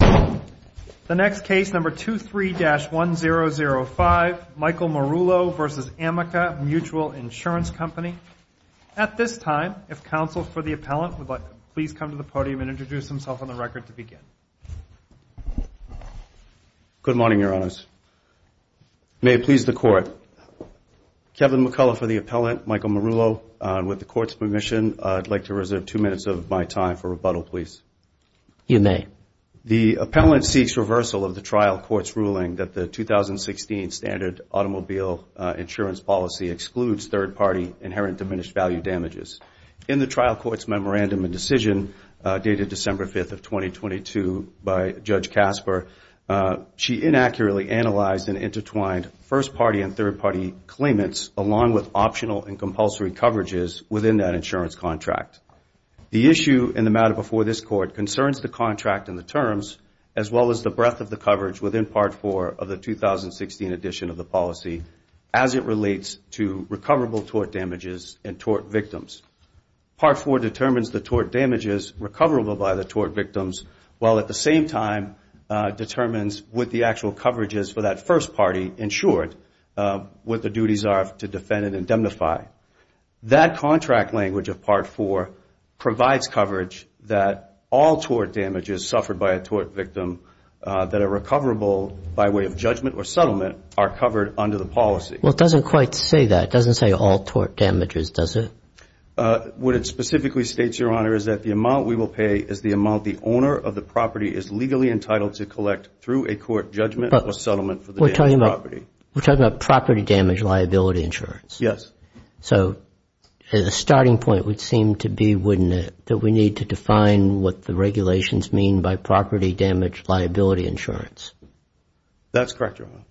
The next case, number 23-1005, Michael Marullo v. Amica Mutual Insurance Company. At this time, if counsel for the appellant would please come to the podium and introduce himself on the record to begin. Good morning, Your Honors. May it please the Court, Kevin McCullough for the appellant, Michael Marullo. With the Court's permission, I'd like to reserve two minutes of my time for rebuttal, please. You may. The appellant seeks reversal of the trial court's ruling that the 2016 Standard Automobile Insurance Policy excludes third-party inherent diminished value damages. In the trial court's memorandum and decision, dated December 5, 2022, by Judge Kasper, she inaccurately analyzed and intertwined first-party and third-party claimants, along with optional and compulsory coverages within that insurance contract. The issue in the matter before this Court concerns the contract and the terms, as well as the breadth of the coverage within Part 4 of the 2016 edition of the policy, as it relates to recoverable tort damages and tort victims. Part 4 determines the tort damages recoverable by the tort victims, while at the same time determines what the actual coverages for that first party, in short, what the duties are to defend and indemnify. That contract language of Part 4 provides coverage that all tort damages suffered by a tort victim that are recoverable by way of judgment or settlement are covered under the policy. Well, it doesn't quite say that. It doesn't say all tort damages, does it? What it specifically states, Your Honor, is that the amount we will pay is the amount the owner of the property is legally entitled to collect through a court judgment or settlement for the damaged property. We're talking about property damage liability insurance. Yes. So the starting point would seem to be, wouldn't it, that we need to define what the regulations mean by property damage liability insurance. That's correct, Your Honor.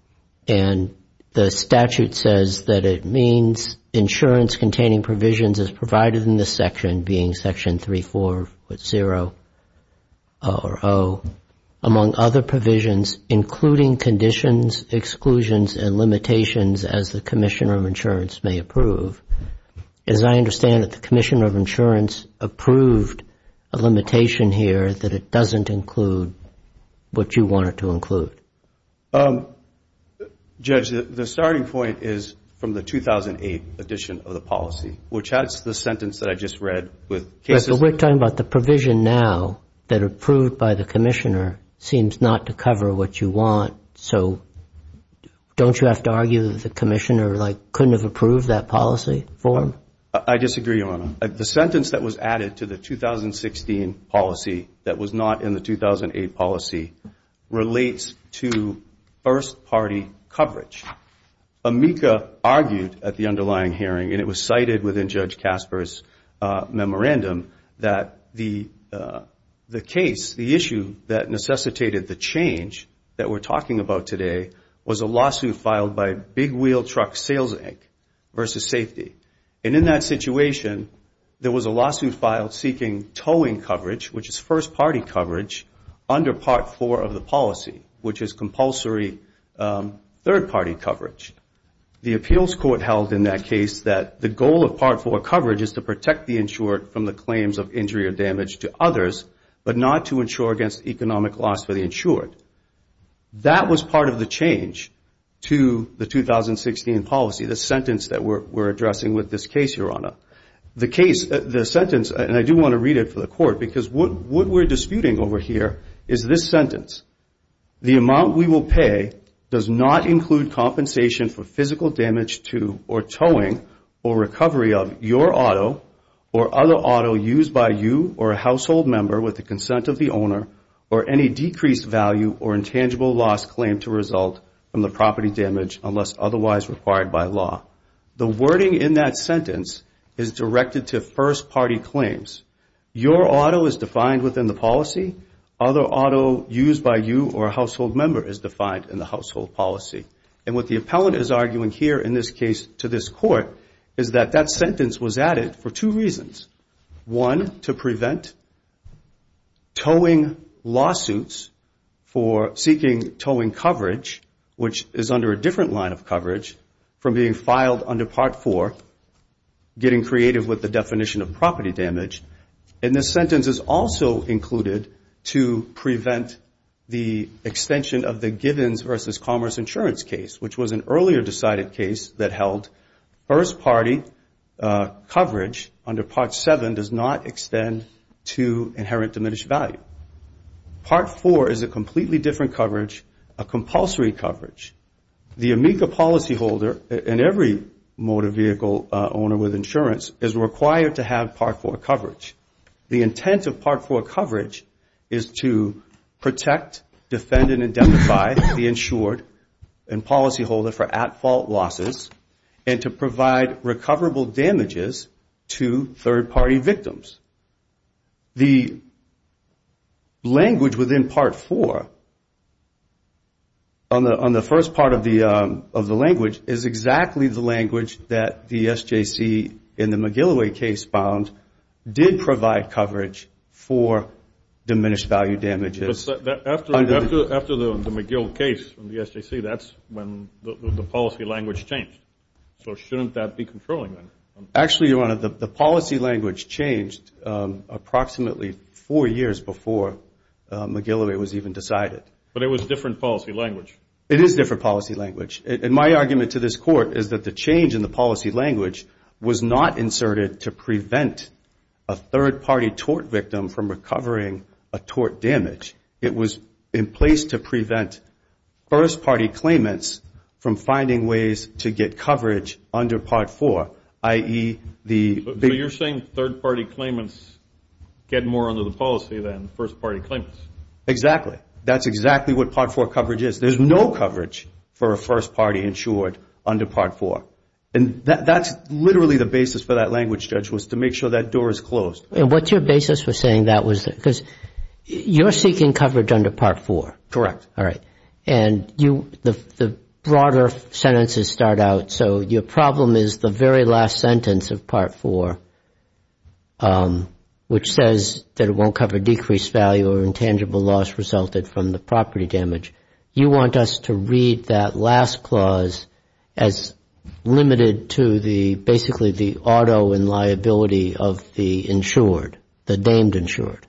And the statute says that it means insurance containing provisions as provided in this section, being Section 34.0 or 0, among other provisions, including conditions, exclusions, and limitations as the commissioner of insurance may approve. As I understand it, the commissioner of insurance approved a limitation here that it doesn't include what you want it to include. Judge, the starting point is from the 2008 edition of the policy, which has the sentence that I just read with cases. We're talking about the provision now that approved by the commissioner seems not to cover what you want. So don't you have to argue that the commissioner, like, couldn't have approved that policy form? I disagree, Your Honor. The sentence that was added to the 2016 policy that was not in the 2008 policy relates to first-party coverage. AMICA argued at the underlying hearing, and it was cited within Judge Casper's memorandum, that the case, the issue that necessitated the change that we're talking about today, was a lawsuit filed by Big Wheel Truck Sales Inc. versus Safety. And in that situation, there was a lawsuit filed seeking towing coverage, which is first-party coverage, under Part 4 of the policy, which is compulsory third-party coverage. The appeals court held in that case that the goal of Part 4 coverage is to protect the insured from the claims of injury or damage to others, but not to insure against economic loss for the insured. That was part of the change to the 2016 policy, the sentence that we're addressing with this case, Your Honor. The case, the sentence, and I do want to read it for the court, because what we're disputing over here is this sentence. The amount we will pay does not include compensation for physical damage to, or towing, or recovery of your auto or other auto used by you or a household member with the consent of the owner, or any decreased value or intangible loss claimed to result from the property damage unless otherwise required by law. The wording in that sentence is directed to first-party claims. Your auto is defined within the policy. Other auto used by you or a household member is defined in the household policy. And what the appellant is arguing here in this case to this court is that that sentence was added for two reasons. One, to prevent towing lawsuits for seeking towing coverage, which is under a different line of coverage, from being filed under Part 4, getting creative with the definition of property damage. And this sentence is also included to prevent the extension of the Givens v. Commerce insurance case, which was an earlier decided case that held first-party coverage under Part 7 does not extend to inherent diminished value. Part 4 is a completely different coverage, a compulsory coverage. The AMICA policyholder and every motor vehicle owner with insurance is required to have Part 4 coverage. The intent of Part 4 coverage is to protect, defend, and identify the insured and policyholder for at-fault losses and to provide recoverable damages to third-party victims. The language within Part 4 on the first part of the language is exactly the language that the SJC in the McGill case found did provide coverage for diminished value damages. After the McGill case, the SJC, that's when the policy language changed. So shouldn't that be controlling then? Actually, Your Honor, the policy language changed approximately four years before McGill was even decided. But it was a different policy language. It is a different policy language. And my argument to this Court is that the change in the policy language was not inserted to prevent a third-party tort victim from recovering a tort damage. It was in place to prevent first-party claimants from finding ways to get coverage under Part 4, i.e., the big... So you're saying third-party claimants get more under the policy than first-party claimants? Exactly. That's exactly what Part 4 coverage is. There's no coverage for a first-party insured under Part 4. And that's literally the basis for that language, Judge, was to make sure that door is closed. And what's your basis for saying that? Because you're seeking coverage under Part 4. Correct. All right. And the broader sentences start out, so your problem is the very last sentence of Part 4, which says that it won't cover decreased value or intangible loss resulted from the property damage. You want us to read that last clause as limited to basically the auto and liability of the insured, the named insured,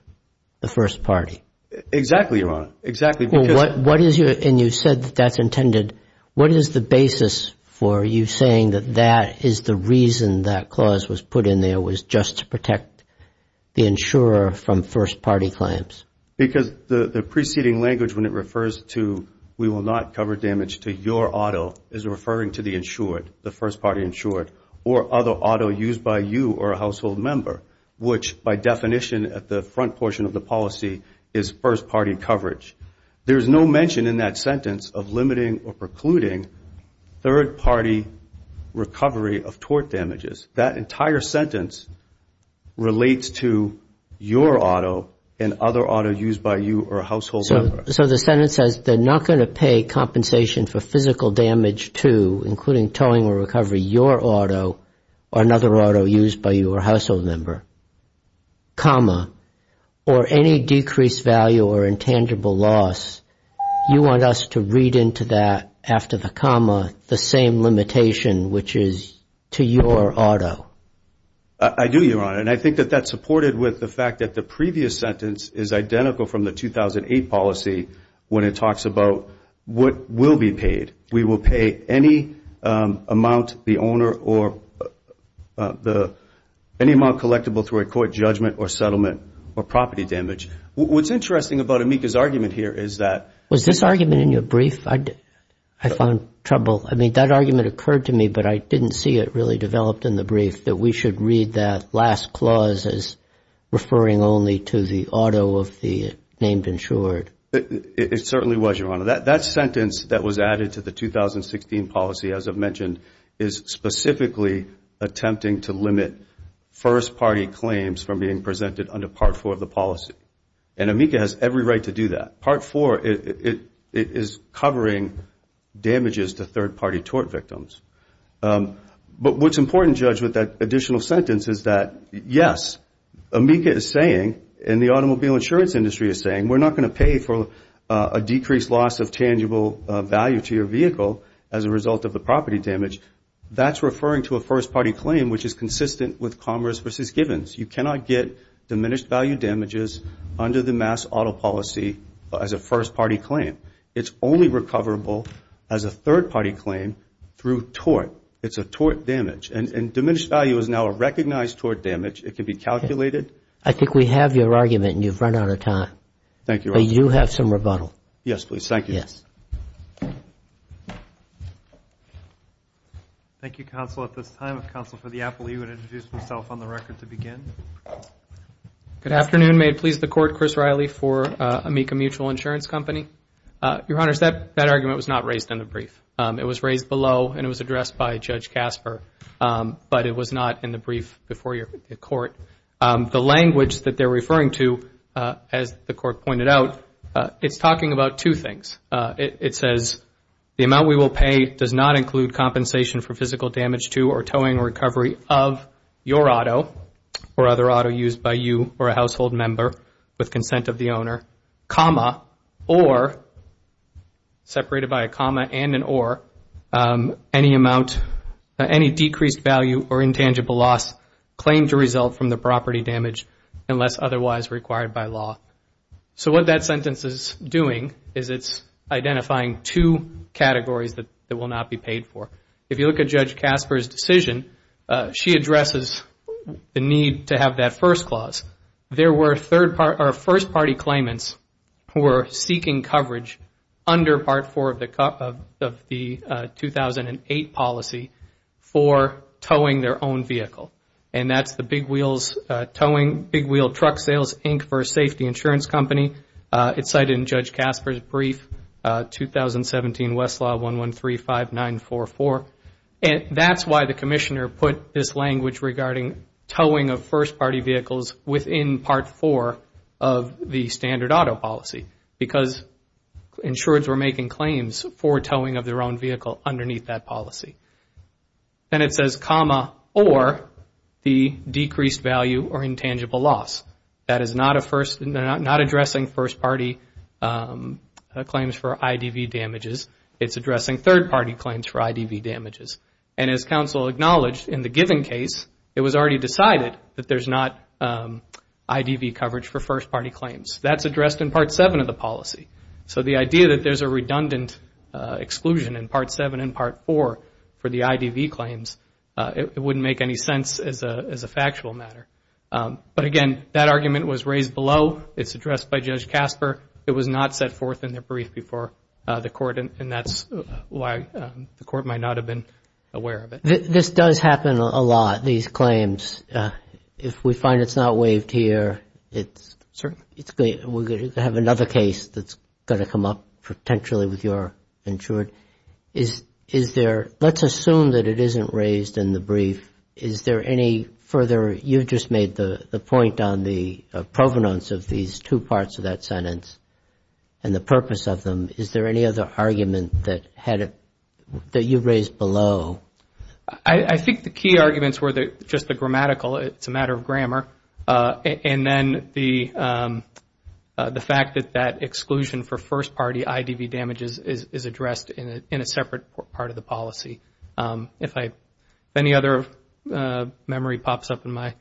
the first party. Exactly, Your Honor. Exactly. And you said that's intended. What is the basis for you saying that that is the reason that clause was put in there was just to protect the insurer from first-party claims? Because the preceding language when it refers to we will not cover damage to your auto is referring to the insured, the first-party insured, or other auto used by you or a household member, which by definition at the front portion of the policy is first-party coverage. There's no mention in that sentence of limiting or precluding third-party recovery of tort damages. That entire sentence relates to your auto and other auto used by you or a household member. So the sentence says they're not going to pay compensation for physical damage to, including towing or recovery, your auto or another auto used by you or a household member, comma, or any decreased value or intangible loss. You want us to read into that after the comma the same limitation, which is to your auto. I do, Your Honor, and I think that that's supported with the fact that the previous sentence is identical from the 2008 policy when it talks about what will be paid. We will pay any amount the owner or any amount collectible through a court judgment or settlement or property damage. What's interesting about Amika's argument here is that – I'm sorry, Mr. Brieff – that we should read that last clause as referring only to the auto of the named insured. It certainly was, Your Honor. That sentence that was added to the 2016 policy, as I've mentioned, is specifically attempting to limit first-party claims from being presented under Part IV of the policy, and Amika has every right to do that. Part IV is covering damages to third-party tort victims. But what's important, Judge, with that additional sentence is that, yes, Amika is saying, and the automobile insurance industry is saying, we're not going to pay for a decreased loss of tangible value to your vehicle as a result of the property damage. That's referring to a first-party claim, which is consistent with Commerce v. Givens. You cannot get diminished value damages under the MAS auto policy as a first-party claim. It's only recoverable as a third-party claim through tort. It's a tort damage, and diminished value is now a recognized tort damage. It can be calculated. I think we have your argument, and you've run out of time. But you have some rebuttal. Yes, please. Thank you. Thank you, Counsel. At this time, Counsel for the Apple, he would introduce himself on the record to begin. Good afternoon. May it please the Court, Chris Riley for Amika Mutual Insurance Company. Your Honors, that argument was not raised in the brief. It was raised below, and it was addressed by Judge Kasper, but it was not in the brief before the Court. The language that they're referring to, as the Court pointed out, it's talking about two things. It says, the amount we will pay does not include compensation for physical damage to or towing or recovery of your auto or other auto used by you or a household member with consent of the owner, comma, or, separated by a comma and an or, any amount, any decreased value or intangible loss claimed to result from the property damage unless otherwise required by law. So what that sentence is doing is it's identifying two categories that will not be paid for. If you look at Judge Kasper's decision, she addresses the need to have that first clause. There were first party claimants who were seeking coverage under Part 4 of the 2008 policy for towing their own vehicle. And that's the Big Wheel Truck Sales, Inc. for Safety Insurance Company. It's cited in Judge Kasper's brief, 2017 Westlaw 1135944. And that's why the Commissioner put this language regarding towing of first party vehicles within Part 4 of the standard auto policy. Because insureds were making claims for towing of their own vehicle underneath that policy. Then it says, comma, or, the decreased value or intangible loss. That is not addressing first party claims for IDV damages. It's addressing third party claims for IDV damages. And as counsel acknowledged, in the given case, it was already decided that there's not IDV coverage for first party claims. That's addressed in Part 7 of the policy. So the idea that there's a redundant exclusion in Part 7 and Part 4 for the IDV claims, it wouldn't make any sense as a factual matter. But again, that argument was raised below. It's addressed by Judge Kasper. It was not set forth in the brief before the Court, and that's why the Court might not have been aware of it. This does happen a lot, these claims. If we find it's not waived here, we're going to have another case that's going to come up potentially with your insured. Let's assume that it isn't raised in the brief. You just made the point on the provenance of these two parts of that sentence and the purpose of them. Is there any other argument that you raised below? I think the key arguments were just the grammatical, it's a matter of grammar, and then the fact that that exclusion for first party IDV damages is addressed in a separate part of the policy. If any other memory pops up in my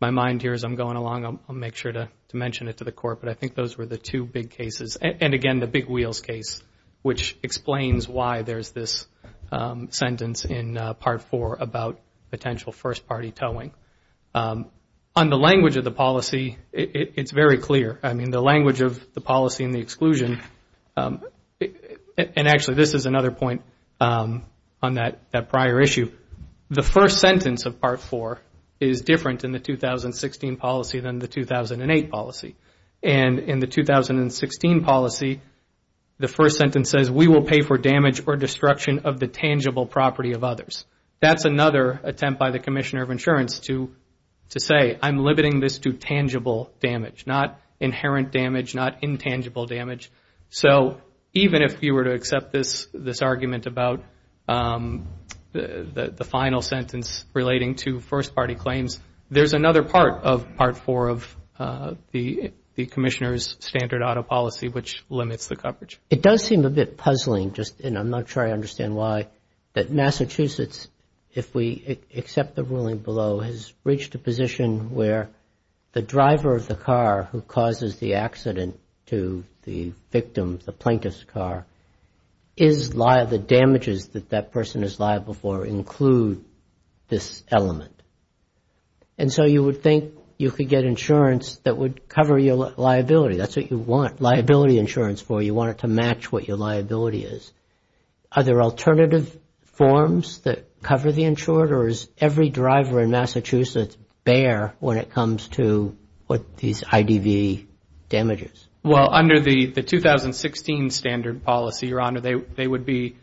mind here as I'm going along, I'll make sure to mention it to the Court, but I think those were the two big cases. And again, the big wheels case, which explains why there's this sentence in Part 4 about potential first party towing. On the language of the policy, it's very clear. And actually, this is another point on that prior issue. The first sentence of Part 4 is different in the 2016 policy than the 2008 policy. And in the 2016 policy, the first sentence says we will pay for damage or destruction of the tangible property of others. That's another attempt by the Commissioner of Insurance to say I'm limiting this to tangible damage, not inherent damage, not intangible damage. So even if you were to accept this argument about the final sentence relating to first party claims, there's another part of Part 4 of the Commissioner's standard auto policy which limits the coverage. It does seem a bit puzzling, and I'm not sure I understand why, that Massachusetts, if we accept the ruling below, has reached a position where the driver of the car who causes the accident to the victim, the plaintiff's car, is liable. The damages that that person is liable for include this element. And so you would think you could get insurance that would cover your liability. That's what you want liability insurance for. You want it to match what your liability is. Are there alternative forms that cover the insured, or is every driver in Massachusetts bare when it comes to these IDV damages? Well, under the 2016 standard policy, Your Honor, they would be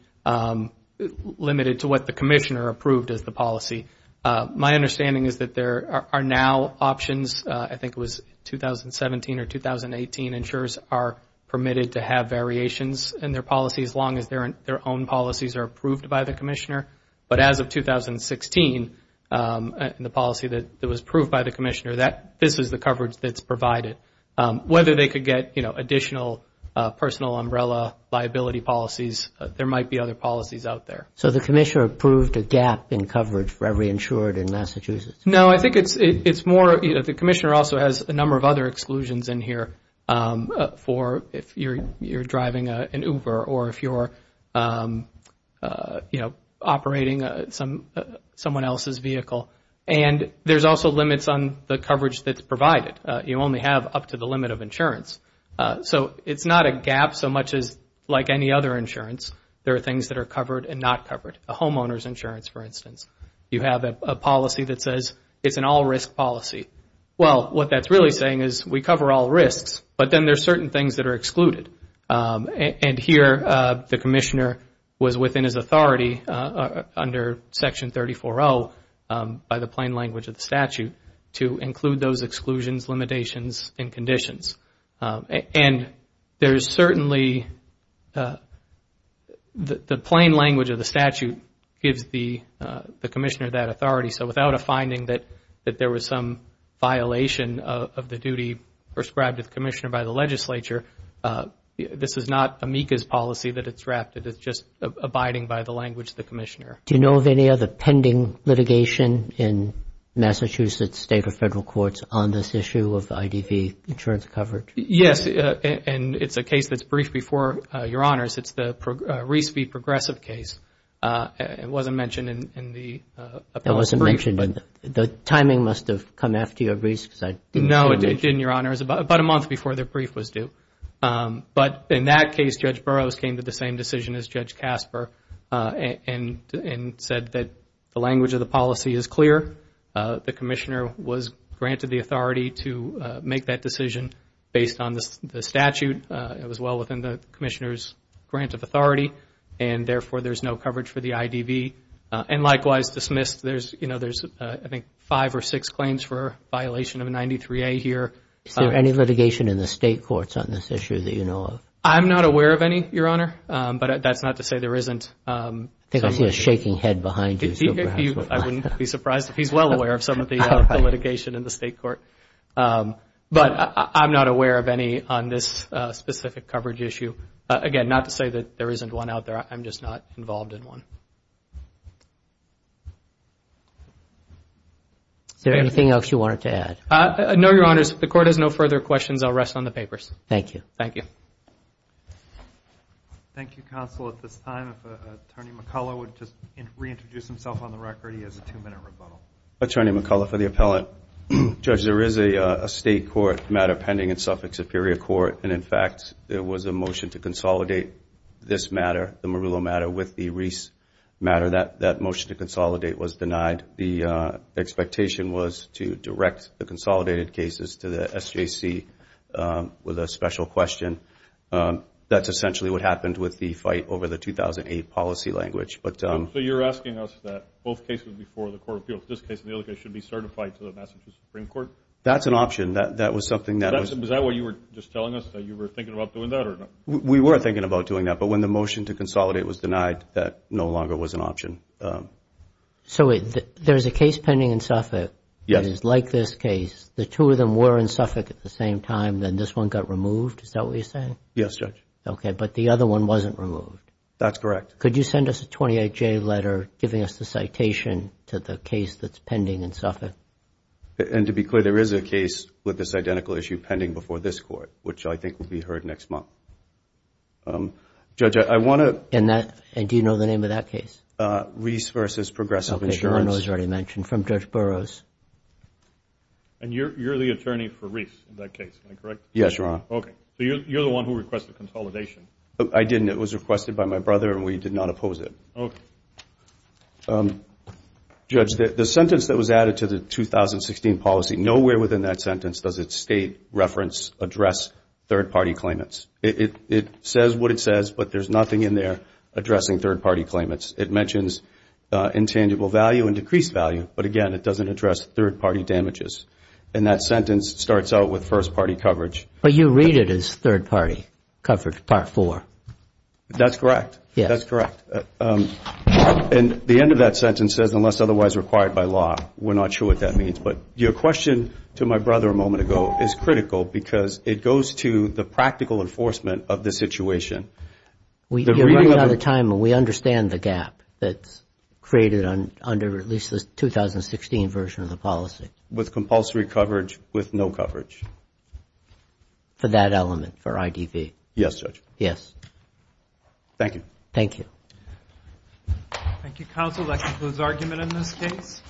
limited to what the Commissioner approved as the policy. My understanding is that there are now options. I think it was 2017 or 2018 insurers are permitted to have variations in their policy as long as their own policies are approved by the Commissioner. But as of 2016, the policy that was approved by the Commissioner, this is the coverage that's provided. Whether they could get, you know, additional personal umbrella liability policies, there might be other policies out there. So the Commissioner approved a gap in coverage for every insured in Massachusetts? No, I think it's more, you know, the Commissioner also has a number of other exclusions in here for if you're driving an Uber or if you're, you know, operating someone else's vehicle. And there's also limits on the coverage that's provided. In fact, you only have up to the limit of insurance. So it's not a gap so much as like any other insurance, there are things that are covered and not covered. A homeowner's insurance, for instance. You have a policy that says it's an all-risk policy. Well, what that's really saying is we cover all risks, but then there's certain things that are excluded. And here the Commissioner was within his authority under Section 34-0 by the plain language of the statute to include those exclusions, limitations, and conditions. And there's certainly the plain language of the statute gives the Commissioner that authority. So without a finding that there was some violation of the duty prescribed to the Commissioner by the legislature, this is not amicus policy that it's drafted. It's just abiding by the language of the Commissioner. Do you know of any other pending litigation in Massachusetts state or federal courts on this issue of IDV insurance coverage? Yes, and it's a case that's briefed before Your Honors. It's the Reese v. Progressive case. It wasn't mentioned in the appellate brief. It wasn't mentioned, but the timing must have come after your briefs. No, it didn't, Your Honors, about a month before the brief was due. But in that case, Judge Burroughs came to the same decision as Judge Casper and said that the language of the policy is clear. The Commissioner was granted the authority to make that decision based on the statute. It was well within the Commissioner's grant of authority, and therefore, there's no coverage for the IDV. And likewise, dismissed, there's I think five or six claims for violation of 93A here. Is there any litigation in the state courts on this issue that you know of? I'm not aware of any, Your Honor, but that's not to say there isn't. I think I see a shaking head behind you. I wouldn't be surprised if he's well aware of some of the litigation in the state court. But I'm not aware of any on this specific coverage issue. Again, not to say that there isn't one out there. I'm just not involved in one. Is there anything else you wanted to add? No, Your Honors. If the Court has no further questions, I'll rest on the papers. Thank you. Thank you, Counsel. At this time, if Attorney McCullough would just reintroduce himself on the record, he has a two-minute rebuttal. Attorney McCullough for the Appellant. Judge, there is a state court matter pending in Suffolk Superior Court, and in fact, there was a motion to consolidate this matter, the Murillo matter, with the Reese matter. That motion to consolidate was denied. The expectation was to direct the consolidated cases to the SJC with a special question. That's essentially what happened with the fight over the 2008 policy language. So you're asking us that both cases before the Court of Appeals, this case and the other case, should be certified to the Massachusetts Supreme Court? That's an option. Is that what you were just telling us, that you were thinking about doing that? We were thinking about doing that, but when the motion to consolidate was denied, that no longer was an option. So there is a case pending in Suffolk that is like this case. The two of them were in Suffolk at the same time, then this one got removed? Is that what you're saying? Yes, Judge. Okay, but the other one wasn't removed? That's correct. Could you send us a 28-J letter giving us the citation to the case that's pending in Suffolk? And to be clear, there is a case with this identical issue pending before this Court, which I think will be heard next month. Judge, I want to... And do you know the name of that case? Reese v. Progressive Insurance. Okay, I know it's already mentioned. From Judge Burroughs. And you're the attorney for Reese in that case, am I correct? Yes, Your Honor. Okay. So you're the one who requested consolidation? I didn't. It was requested by my brother, and we did not oppose it. Okay. Judge, the sentence that was added to the 2016 policy, nowhere within that sentence does it state, reference, address third-party claimants. It says what it says, but there's nothing in there addressing third-party claimants. It mentions intangible value and decreased value, but again, it doesn't address third-party damages. And that sentence starts out with first-party coverage. But you read it as third-party coverage, Part 4. That's correct. That's correct. And the end of that sentence says, unless otherwise required by law. We're not sure what that means, but your question to my brother a moment ago is critical because it goes to the practical enforcement of the situation. You're running out of time, and we understand the gap that's created under at least the 2016 version of the policy. With compulsory coverage with no coverage. For that element, for IDV. Yes, Judge. Thank you. Thank you.